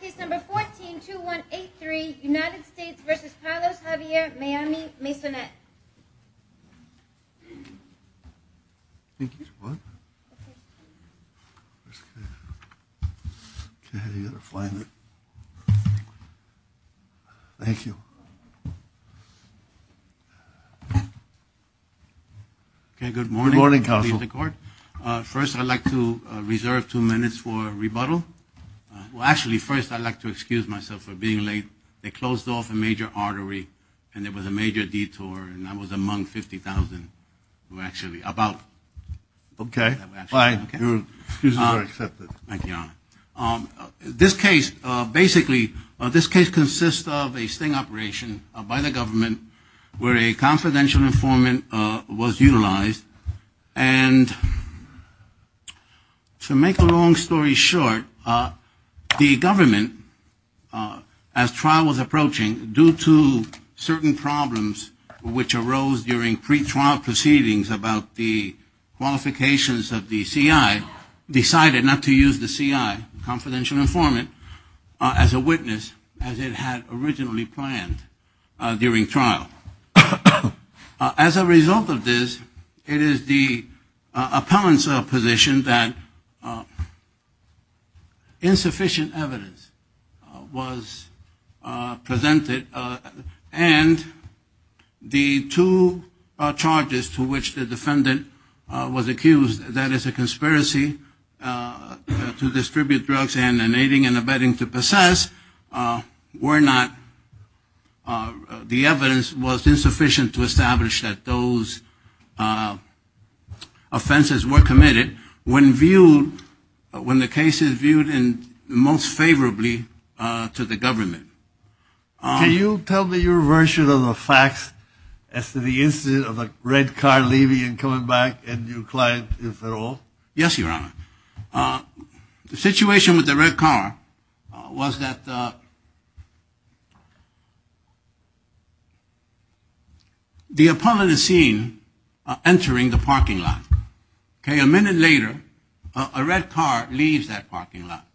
Case number 14-2183, United States v. Carlos Javier Maymi-Maysonet Thank you Good morning counsel. First I'd like to reserve two minutes for rebuttal. Well actually first I'd like to excuse myself for being late. They closed off a major artery and there was a major detour and I was among 50,000 who were actually about. Okay, fine. Your excuses are accepted. Thank you, Your Honor. This case, basically, this case consists of a sting operation by the government where a confidential informant was utilized and to make a long story short, the government, as trial was approaching, due to certain problems which arose during pre-trial proceedings about the qualifications of the CI, decided not to use the CI, confidential informant, as a witness as it had originally planned during trial. As a result of this, it is the appellant's position that insufficient evidence was presented and the two charges to which the defendant was accused, that is a conspiracy to distribute drugs and an aiding and abetting to possess, were not, the evidence was insufficient to establish that those offenses were committed when viewed, when the case is viewed most favorably to the government. Can you tell me your version of the facts as to the incident of a red car leaving and coming back and your client, if at all? Yes, Your Honor. The situation with the red car was that the appellant is seen entering the parking lot. Okay, a minute later, a red car leaves that parking lot.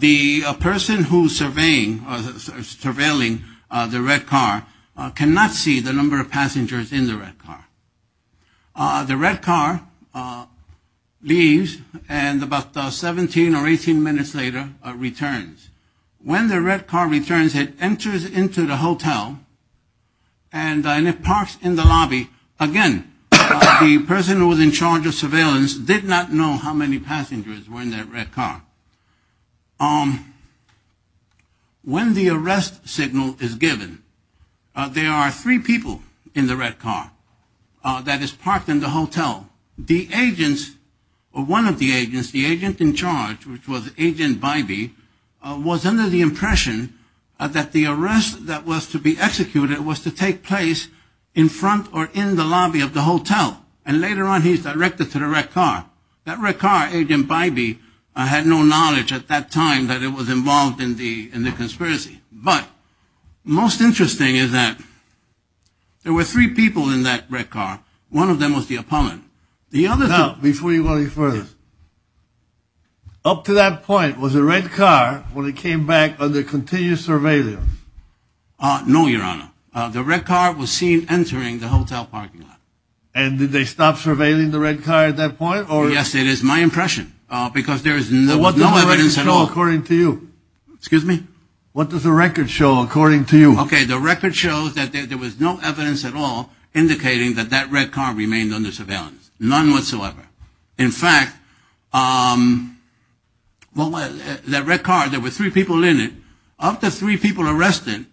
The person who is surveying, surveilling the red car cannot see the number of passengers in the red car. The red car leaves and about 17 or 18 minutes later returns. When the red car returns, it enters into the hotel and it parks in the lobby. Again, the person who was in charge of surveillance did not know how many passengers were in that red car. When the arrest signal is given, there are three people in the red car that is parked in the hotel. One of the agents, the agent in charge, which was Agent Bybee, was under the impression that the arrest that was to be executed was to take place in front or in the lobby of the hotel. And later on, he's directed to the red car. That red car, Agent Bybee, had no knowledge at that time that it was involved in the conspiracy. But most interesting is that there were three people in that red car. One of them was the appellant. Now, before you go any further, up to that point, was the red car, when it came back, under continuous surveillance? No, Your Honor. The red car was seen entering the hotel parking lot. And did they stop surveilling the red car at that point? Yes, it is my impression. There was no evidence at all, according to you. Excuse me? What does the record show, according to you? Okay, the record shows that there was no evidence at all indicating that that red car remained under surveillance. None whatsoever. In fact, that red car, there were three people in it. Of the three people arrested,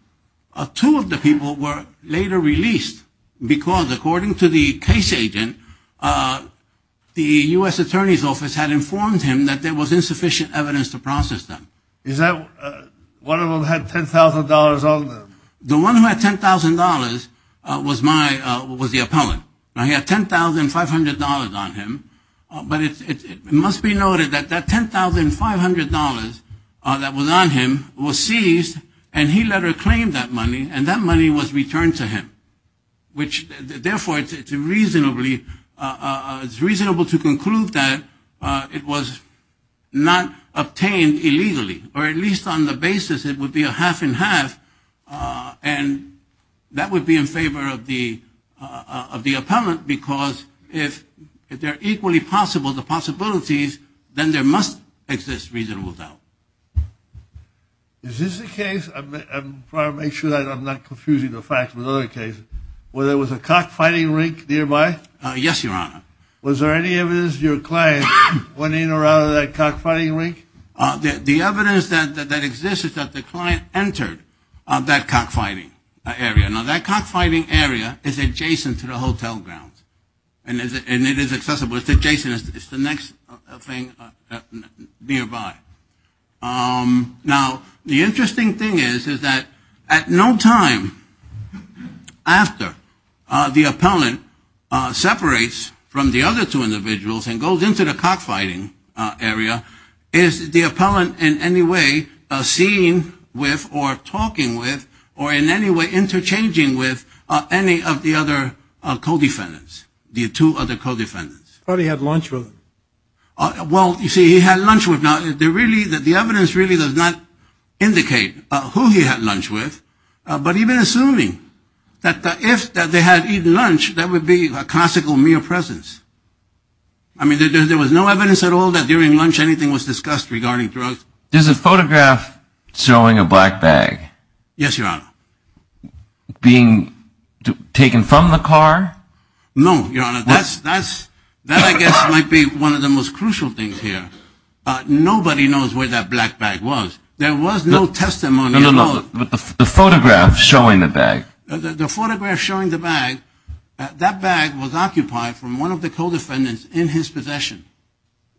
two of the people were later released because, according to the case agent, the U.S. Attorney's Office had informed him that there was insufficient evidence to process them. One of them had $10,000 on them? The one who had $10,000 was the appellant. He had $10,500 on him. But it must be noted that that $10,500 that was on him was seized, and he later claimed that money, and that money was returned to him. Which, therefore, it's reasonable to conclude that it was not obtained illegally, or at least on the basis that it would be a half and half, and that would be in favor of the appellant, because if they're equally possible, the possibilities, then there must exist reasonable doubt. Is this the case? I want to make sure that I'm not confusing the facts with other cases. Was there a cockfighting rink nearby? Yes, Your Honor. Was there any evidence that your client went in or out of that cockfighting rink? The evidence that exists is that the client entered that cockfighting area. Now, that cockfighting area is adjacent to the hotel grounds, and it is accessible. It's adjacent. It's the next thing nearby. Now, the interesting thing is, is that at no time after the appellant separates from the other two individuals and goes into the cockfighting area, is the appellant in any way seen with or talking with or in any way interchanging with any of the other co-defendants, the two other co-defendants. But he had lunch with them. Well, you see, he had lunch with them. The evidence really does not indicate who he had lunch with, but even assuming that if they had eaten lunch, that would be a classical mere presence. I mean, there was no evidence at all that during lunch anything was discussed regarding drugs. There's a photograph showing a black bag. Yes, Your Honor. Being taken from the car? No, Your Honor. That, I guess, might be one of the most crucial things here. Nobody knows where that black bag was. There was no testimony at all. No, no, no. The photograph showing the bag. The photograph showing the bag, that bag was occupied from one of the co-defendants in his possession.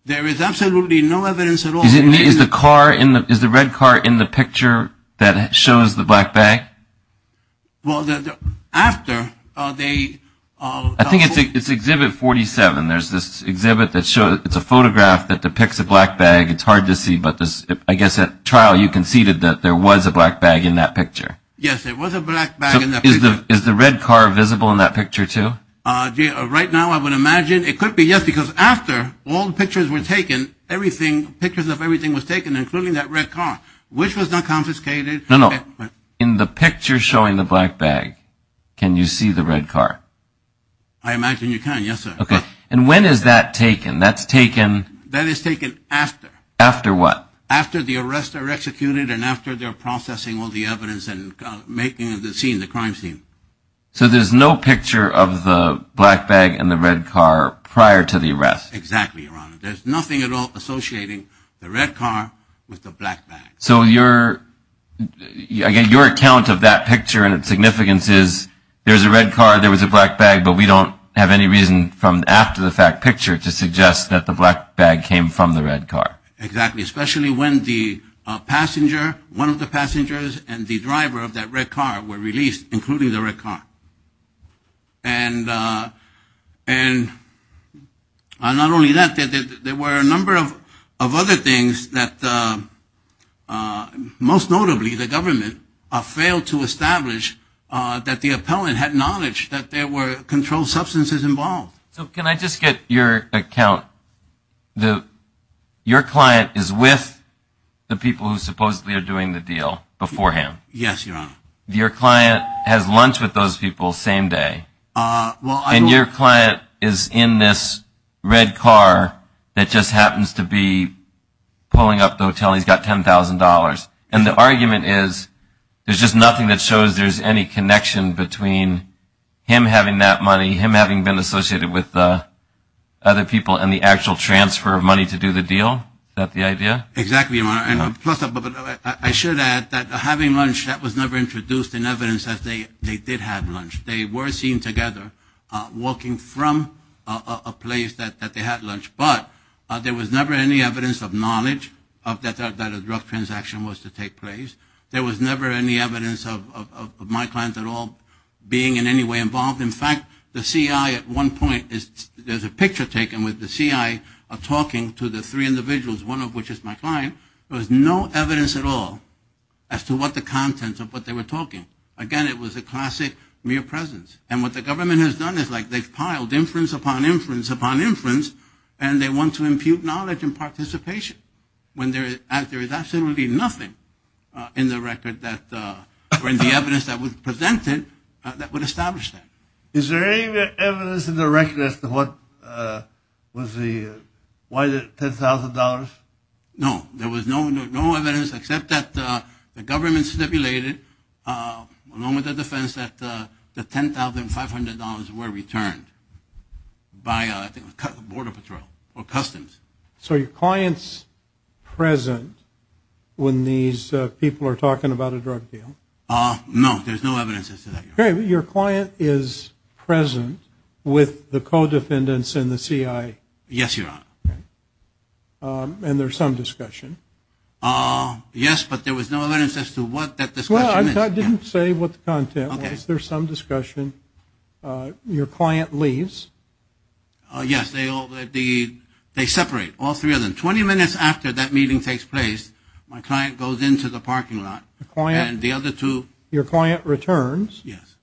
There is absolutely no evidence at all. Is the car, is the red car in the picture that shows the black bag? Well, after they... I think it's Exhibit 47. There's this exhibit that shows, it's a photograph that depicts a black bag. It's hard to see, but I guess at trial you conceded that there was a black bag in that picture. Yes, there was a black bag in that picture. Is the red car visible in that picture, too? Right now, I would imagine it could be, yes, because after all the pictures were taken, everything, pictures of everything was taken, including that red car, which was not confiscated. No, no. In the picture showing the black bag, can you see the red car? I imagine you can, yes, sir. Okay. And when is that taken? That's taken... That is taken after. After what? After the arrests are executed and after they're processing all the evidence and making the scene, the crime scene. So there's no picture of the black bag and the red car prior to the arrest? Exactly, Your Honor. There's nothing at all associating the red car with the black bag. So your, again, your account of that picture and its significance is there's a red car, there was a black bag, but we don't have any reason from after the fact picture to suggest that the black bag came from the red car. Exactly, especially when the passenger, one of the passengers and the driver of that red car were released, including the red car. And not only that, there were a number of other things that most notably the government failed to establish that the appellant had knowledge that there were controlled substances involved. So can I just get your account, your client is with the people who supposedly are doing the deal beforehand? Yes, Your Honor. And your client has lunch with those people same day. And your client is in this red car that just happens to be pulling up to the hotel and he's got $10,000. And the argument is there's just nothing that shows there's any connection between him having that money, him having been associated with the other people and the actual transfer of money to do the deal? Is that the idea? Exactly, Your Honor. I should add that having lunch, that was never introduced in evidence that they did have lunch. They were seen together walking from a place that they had lunch, but there was never any evidence of knowledge that a drug transaction was to take place. There was never any evidence of my client at all being in any way involved. In fact, the CI at one point, there's a picture taken with the CI talking to the three individuals, one of which is my client. There was no evidence at all as to what the contents of what they were talking. Again, it was a classic mere presence. And what the government has done is they've piled inference upon inference upon inference and they want to impute knowledge and participation. There is absolutely nothing in the record or in the evidence that was presented that would establish that. Is there any evidence in the record as to why the $10,000? No, there was no evidence except that the government stipulated along with the defense that the $10,500 were returned by Border Patrol or Customs. So your client's present when these people are talking about a drug deal? No, there's no evidence. Your client is present with the co-defendants and the CI? Yes, Your Honor. And there's some discussion? Yes, but there was no evidence as to what that discussion is. I didn't say what the content was. There's some discussion. Your client leaves? Yes, they separate, all three of them. Twenty minutes after that meeting takes place, my client goes into the parking lot and the other two. Your client returns? Yes.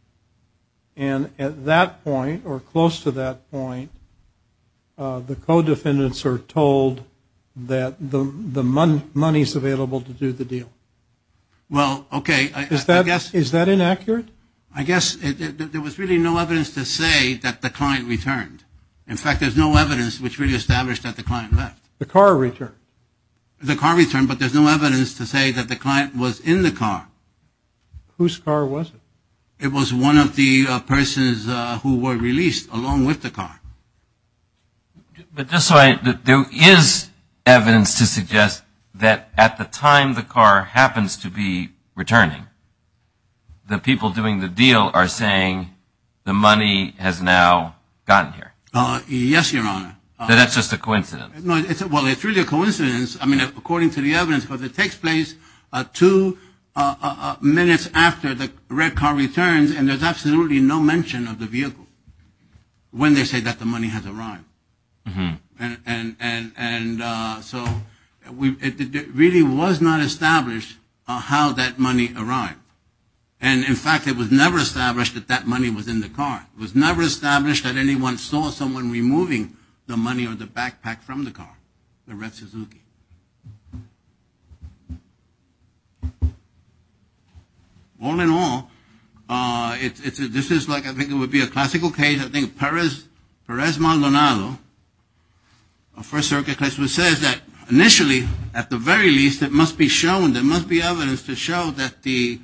And at that point or close to that point, the co-defendants are told that the money is available to do the deal? Well, okay. Is that inaccurate? I guess there was really no evidence to say that the client returned. In fact, there's no evidence which really established that the client left. The car returned? The car returned, but there's no evidence to say that the client was in the car. Whose car was it? It was one of the persons who were released along with the car. But there is evidence to suggest that at the time the car happens to be returning, the people doing the deal are saying the money has now gotten here? Yes, Your Honor. That that's just a coincidence? Well, it's really a coincidence. I mean, according to the evidence, it takes place two minutes after the red car returns and there's absolutely no mention of the vehicle. When they say that the money has arrived. And so it really was not established how that money arrived. And in fact, it was never established that that money was in the car. It was never established that anyone saw someone removing the money or the backpack from the car, the red Suzuki. All in all, this is like, I think it would be a classical case, I think Perez Maldonado, a First Circuit case, which says that initially, at the very least, it must be shown, there must be evidence to show that the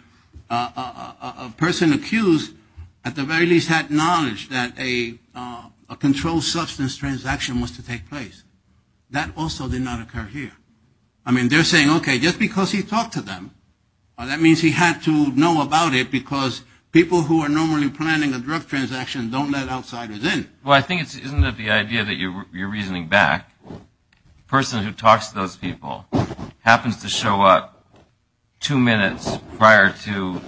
person accused at the very least had knowledge that a controlled substance transaction was to take place. That also did not occur here. I mean, they're saying, okay, just because he talked to them, that means he had to know about it because people who are normally planning a drug transaction don't let outsiders in. Well, I think it's isn't it the idea that you're reasoning back? Person who talks to those people happens to show up two minutes prior to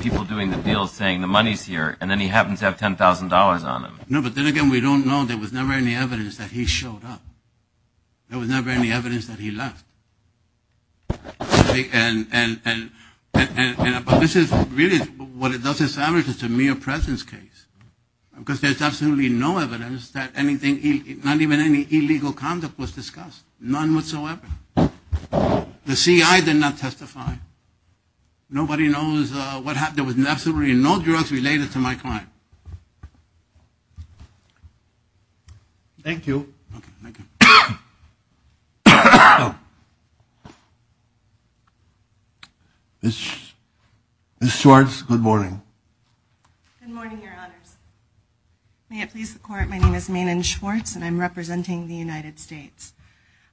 people doing the deal saying the money's here and then he happens to have $10,000 on him. No, but then again, we don't know. There was never any evidence that he showed up. There was never any evidence that he left. And this is really what it does establish is a mere presence case. Because there's absolutely no evidence that anything, not even any illegal conduct was discussed. None whatsoever. The CI did not testify. Nobody knows what happened. There was absolutely no drugs related to my client. Thank you. Ms. Schwartz, good morning. Good morning, Your Honors. May it please the Court, my name is Maenen Schwartz and I'm representing the United States.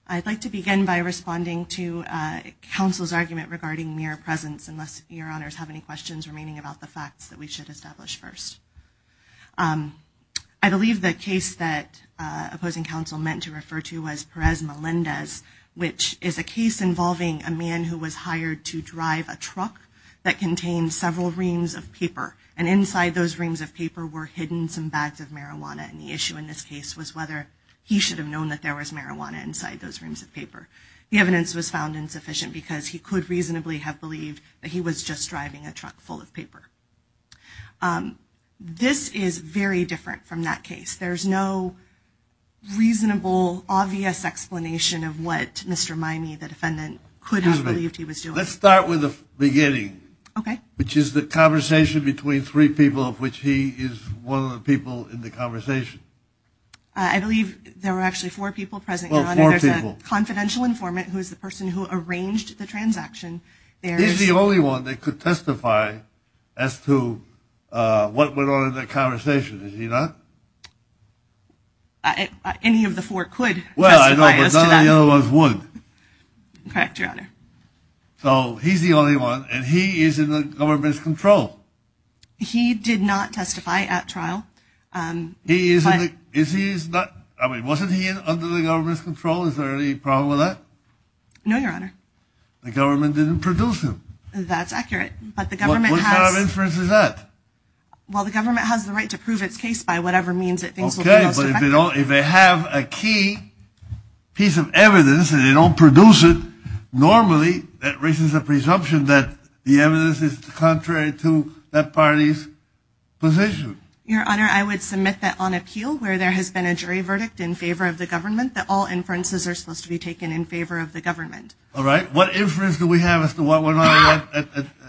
I'd like to begin by responding to counsel's argument regarding mere presence unless Your Honors have any questions remaining about the facts that we should establish first. I believe the case that opposing counsel meant to refer to was Perez Melendez, which is a case involving a man who was hired to drive a truck that contained several reams of paper. And inside those reams of paper were hidden some bags of marijuana and the issue in this case was whether he should have known that there was marijuana inside those reams of paper. The evidence was found insufficient because he could reasonably have believed that he was just driving a truck full of paper. This is very different from that case. There's no reasonable, obvious explanation of what Mr. Mimey, the defendant, could have believed he was doing. Excuse me. Let's start with the beginning. Okay. Which is the conversation between three people of which he is one of the people in the conversation. I believe there were actually four people present, Your Honor. Well, four people. There's a confidential informant who is the person who arranged the transaction. He's the only one that could testify as to what went on in that conversation, is he not? Any of the four could testify as to that. Well, I know, but none of the other ones would. Correct, Your Honor. So he's the only one and he is in the government's control. He did not testify at trial. He is in the, is he, I mean, wasn't he under the government's control? Is there any problem with that? No, Your Honor. The government didn't produce him. That's accurate, but the government has... What kind of inference is that? Well, the government has the right to prove its case by whatever means it thinks will be most effective. Okay, but if they don't, if they have a key piece of evidence and they don't produce it normally, that raises the presumption that the evidence is contrary to that party's position. Your Honor, I would submit that on appeal, where there has been a jury verdict in favor of the government, that all inferences are supposed to be taken in favor of the government. All right. What inference do we have as to what went on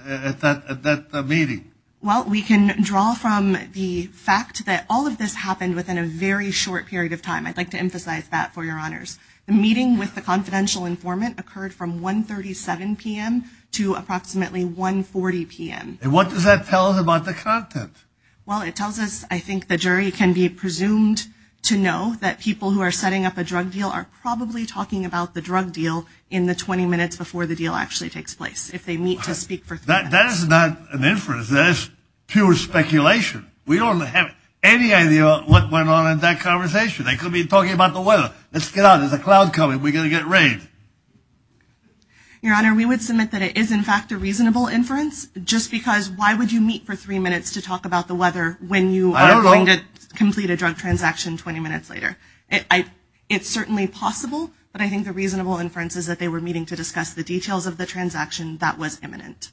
at that meeting? Well, we can draw from the fact that all of this happened within a very short period of time. I'd like to emphasize that for Your Honors. The meeting with the confidential informant occurred from 1.37 p.m. to approximately 1.40 p.m. And what does that tell us about the content? Well, it tells us, I think, the jury can be presumed to know that people who are setting up a drug deal are probably talking about the drug deal in the 20 minutes before the deal actually takes place, if they meet to speak for three minutes. That is not an inference. That is pure speculation. We don't have any idea what went on in that conversation. They could be talking about the weather. Let's get out. There's a cloud coming. We're going to get rained. Your Honor, we would submit that it is, in fact, a reasonable inference, just because why would you meet for three minutes to talk about the weather when you are going to complete a drug transaction 20 minutes later? It's certainly possible, but I think the reasonable inference is that they were meeting to discuss the details of the transaction that was imminent.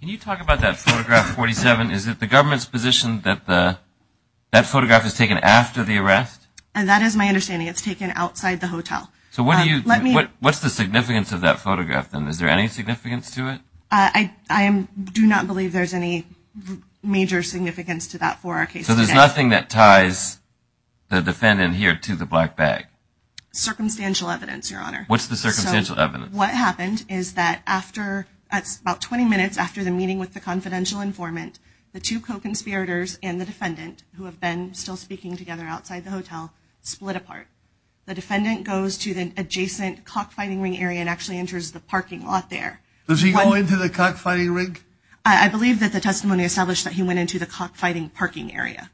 Can you talk about that photograph 47? Is it the government's position that that photograph is taken after the arrest? That is my understanding. It's taken outside the hotel. What's the significance of that photograph, then? Is there any significance to it? I do not believe there's any major significance to that for our case today. So there's nothing that ties the defendant here to the black bag? Circumstantial evidence, Your Honor. What's the circumstantial evidence? What happened is that about 20 minutes after the meeting with the confidential informant, the two co-conspirators and the defendant, who have been still speaking together outside the hotel, split apart. The defendant goes to the adjacent cockfighting ring area and actually enters the parking lot there. Does he go into the cockfighting ring? I believe that the testimony established that he went into the cockfighting parking area.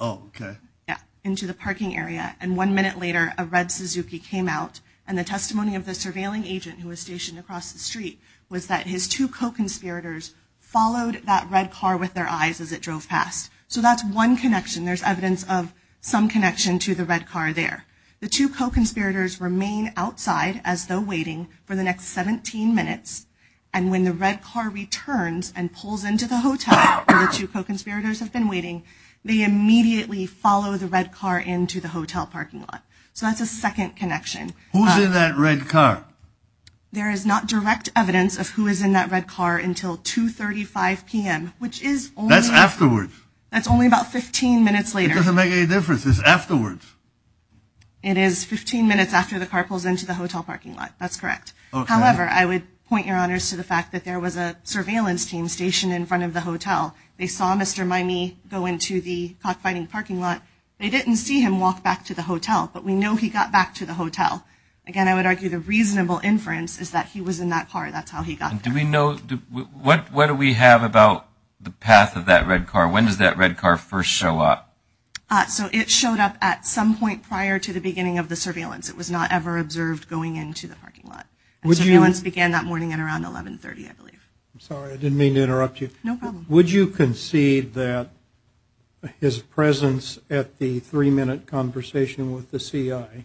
Oh, okay. Yeah, into the parking area. And one minute later, a red Suzuki came out. And the testimony of the surveilling agent who was stationed across the street was that his two co-conspirators followed that red car with their eyes as it drove past. So that's one connection. There's evidence of some connection to the red car there. The two co-conspirators remain outside as though waiting for the next 17 minutes. And when the red car returns and pulls into the hotel where the two co-conspirators have been waiting, they immediately follow the red car into the hotel parking lot. So that's a second connection. Who's in that red car? There is not direct evidence of who is in that red car until 2.35 p.m. That's afterwards. That's only about 15 minutes later. It doesn't make any difference. It's afterwards. It is 15 minutes after the car pulls into the hotel parking lot. That's correct. However, I would point your honors to the fact that there was a surveillance team stationed in front of the hotel. They saw Mr. Maimi go into the cockfighting parking lot. They didn't see him walk back to the hotel. But we know he got back to the hotel. Again, I would argue the reasonable inference is that he was in that car. That's how he got there. Do we know, what do we have about the path of that red car? When does that red car first show up? So it showed up at some point prior to the beginning of the surveillance. It was not ever observed going into the parking lot. Surveillance began that morning at around 1130, I believe. I'm sorry. I didn't mean to interrupt you. No problem. Would you concede that his presence at the three-minute conversation with the C.I. Okay.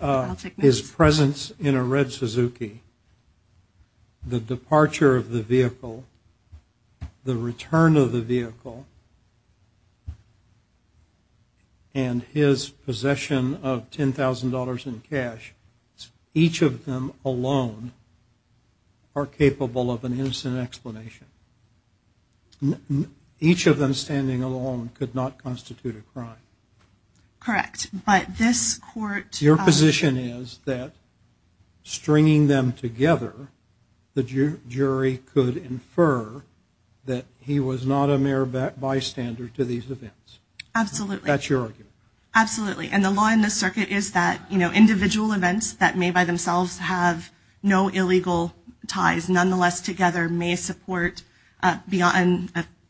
I'll take notes. His presence in a red Suzuki, the departure of the vehicle, the return of the vehicle, and his possession of $10,000 in cash, each of them alone are capable of an innocent explanation. Each of them standing alone could not constitute a crime. Correct. Your position is that stringing them together, the jury could infer that he was not a mere bystander to these events. Absolutely. That's your argument. Absolutely. And the law in this circuit is that individual events that may by themselves have no illegal ties, nonetheless together may support a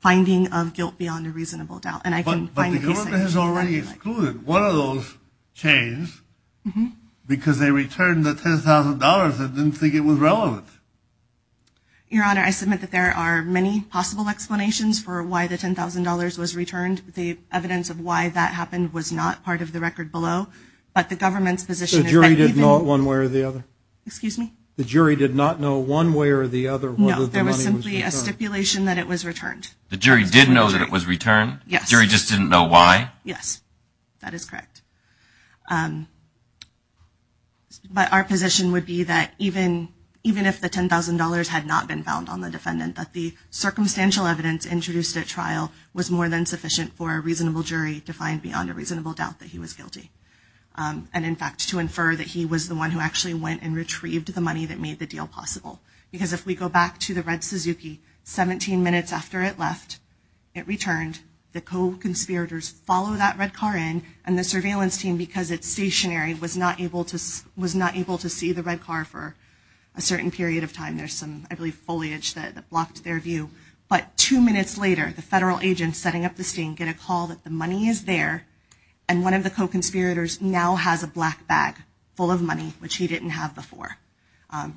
finding of guilt beyond a reasonable doubt. But the government has already excluded one of those chains because they returned the $10,000. They didn't think it was relevant. Your Honor, I submit that there are many possible explanations for why the $10,000 was returned. The evidence of why that happened was not part of the record below. But the government's position is that even – The jury did not know one way or the other. Excuse me? The jury did not know one way or the other whether the money was returned. No. There was simply a stipulation that it was returned. The jury did know that it was returned? Yes. The jury just didn't know why? Yes. That is correct. But our position would be that even if the $10,000 had not been found on the defendant, that the circumstantial evidence introduced at trial was more than sufficient for a reasonable jury to find beyond a reasonable doubt that he was guilty. And in fact, to infer that he was the one who actually went and retrieved the money that made the deal possible. Because if we go back to the red Suzuki, 17 minutes after it left, it returned. The co-conspirators follow that red car in. And the surveillance team, because it's stationary, was not able to see the red car for a certain period of time. There's some, I believe, foliage that blocked their view. But two minutes later, the federal agents setting up the scene get a call that the money is there. And one of the co-conspirators now has a black bag full of money, which he didn't have before.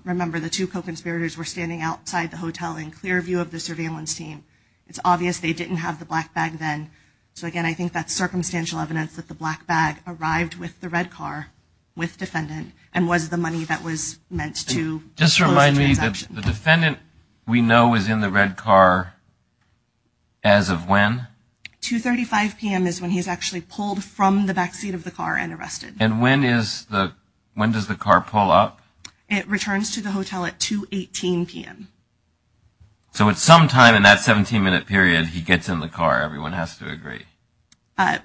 Remember, the two co-conspirators were standing outside the hotel in clear view of the surveillance team. It's obvious they didn't have the black bag then. So, again, I think that's circumstantial evidence that the black bag arrived with the red car with defendant and was the money that was meant to close the transaction. Just remind me, the defendant we know is in the red car as of when? 2.35 p.m. is when he's actually pulled from the backseat of the car and arrested. And when does the car pull up? It returns to the hotel at 2.18 p.m. So at some time in that 17-minute period, he gets in the car. Everyone has to agree.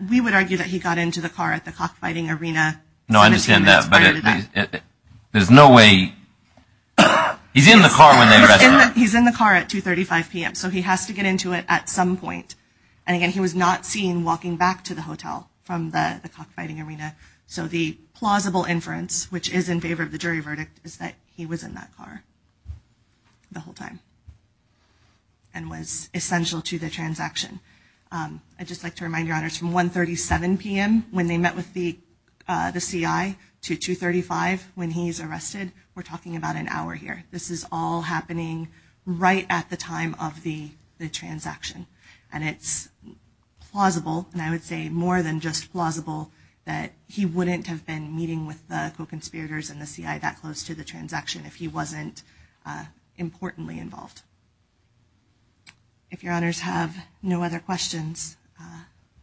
We would argue that he got into the car at the cockfighting arena 17 minutes prior to that. No, I understand that. But there's no way he's in the car when they arrested him. He's in the car at 2.35 p.m., so he has to get into it at some point. So the plausible inference, which is in favor of the jury verdict, is that he was in that car the whole time and was essential to the transaction. I'd just like to remind your honors, from 1.37 p.m. when they met with the CI to 2.35 when he's arrested, we're talking about an hour here. This is all happening right at the time of the transaction. And it's plausible, and I would say more than just plausible, that he wouldn't have been meeting with the co-conspirators and the CI that close to the transaction if he wasn't importantly involved. If your honors have no other questions,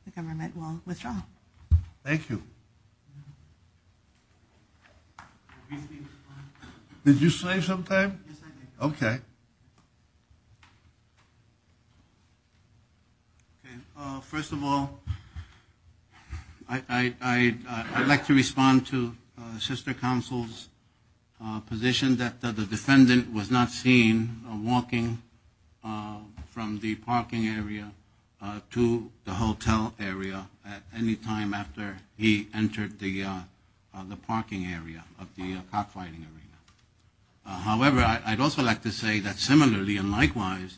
the government will withdraw. Thank you. Did you say something? Yes, I did. Okay. First of all, I'd like to respond to Sister Counsel's position that the defendant was not seen walking from the parking area to the hotel area at any time after he entered the parking area of the cockfighting arena. However, I'd also like to say that similarly and likewise,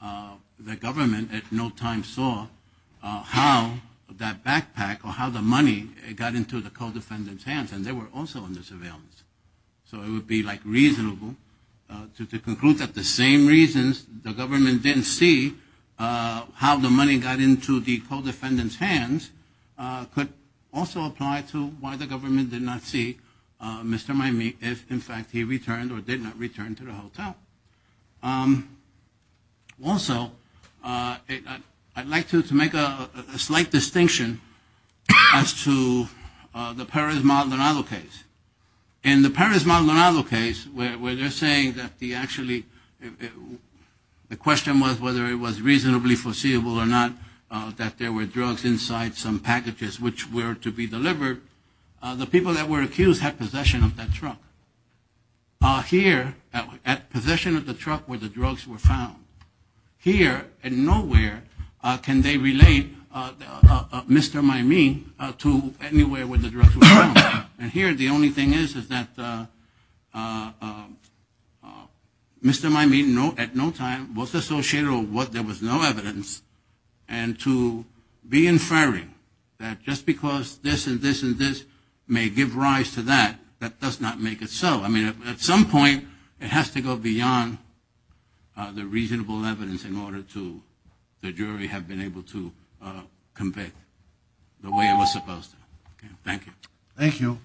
the government at no time saw how that backpack or how the money got into the co-defendant's hands, and they were also under surveillance. So it would be reasonable to conclude that the same reasons the government didn't see how the money got into the co-defendant's hands could also apply to why the government did not see Mr. Maimi if in fact he returned or did not return to the hotel. Also, I'd like to make a slight distinction as to the Perez-Maldonado case. In the Perez-Maldonado case, where they're saying that the question was whether it was reasonably foreseeable or not that there were drugs inside some packages which were to be delivered, the people that were accused had possession of that truck. Here, at possession of the truck where the drugs were found, here and nowhere can they relate Mr. Maimi to anywhere where the drugs were found. And here the only thing is that Mr. Maimi at no time was associated with what there was no evidence, and to be inferring that just because this and this and this may give rise to that, that does not make it so. I mean, at some point it has to go beyond the reasonable evidence in order to the jury have been able to convict the way it was supposed to. Thank you. Thank you.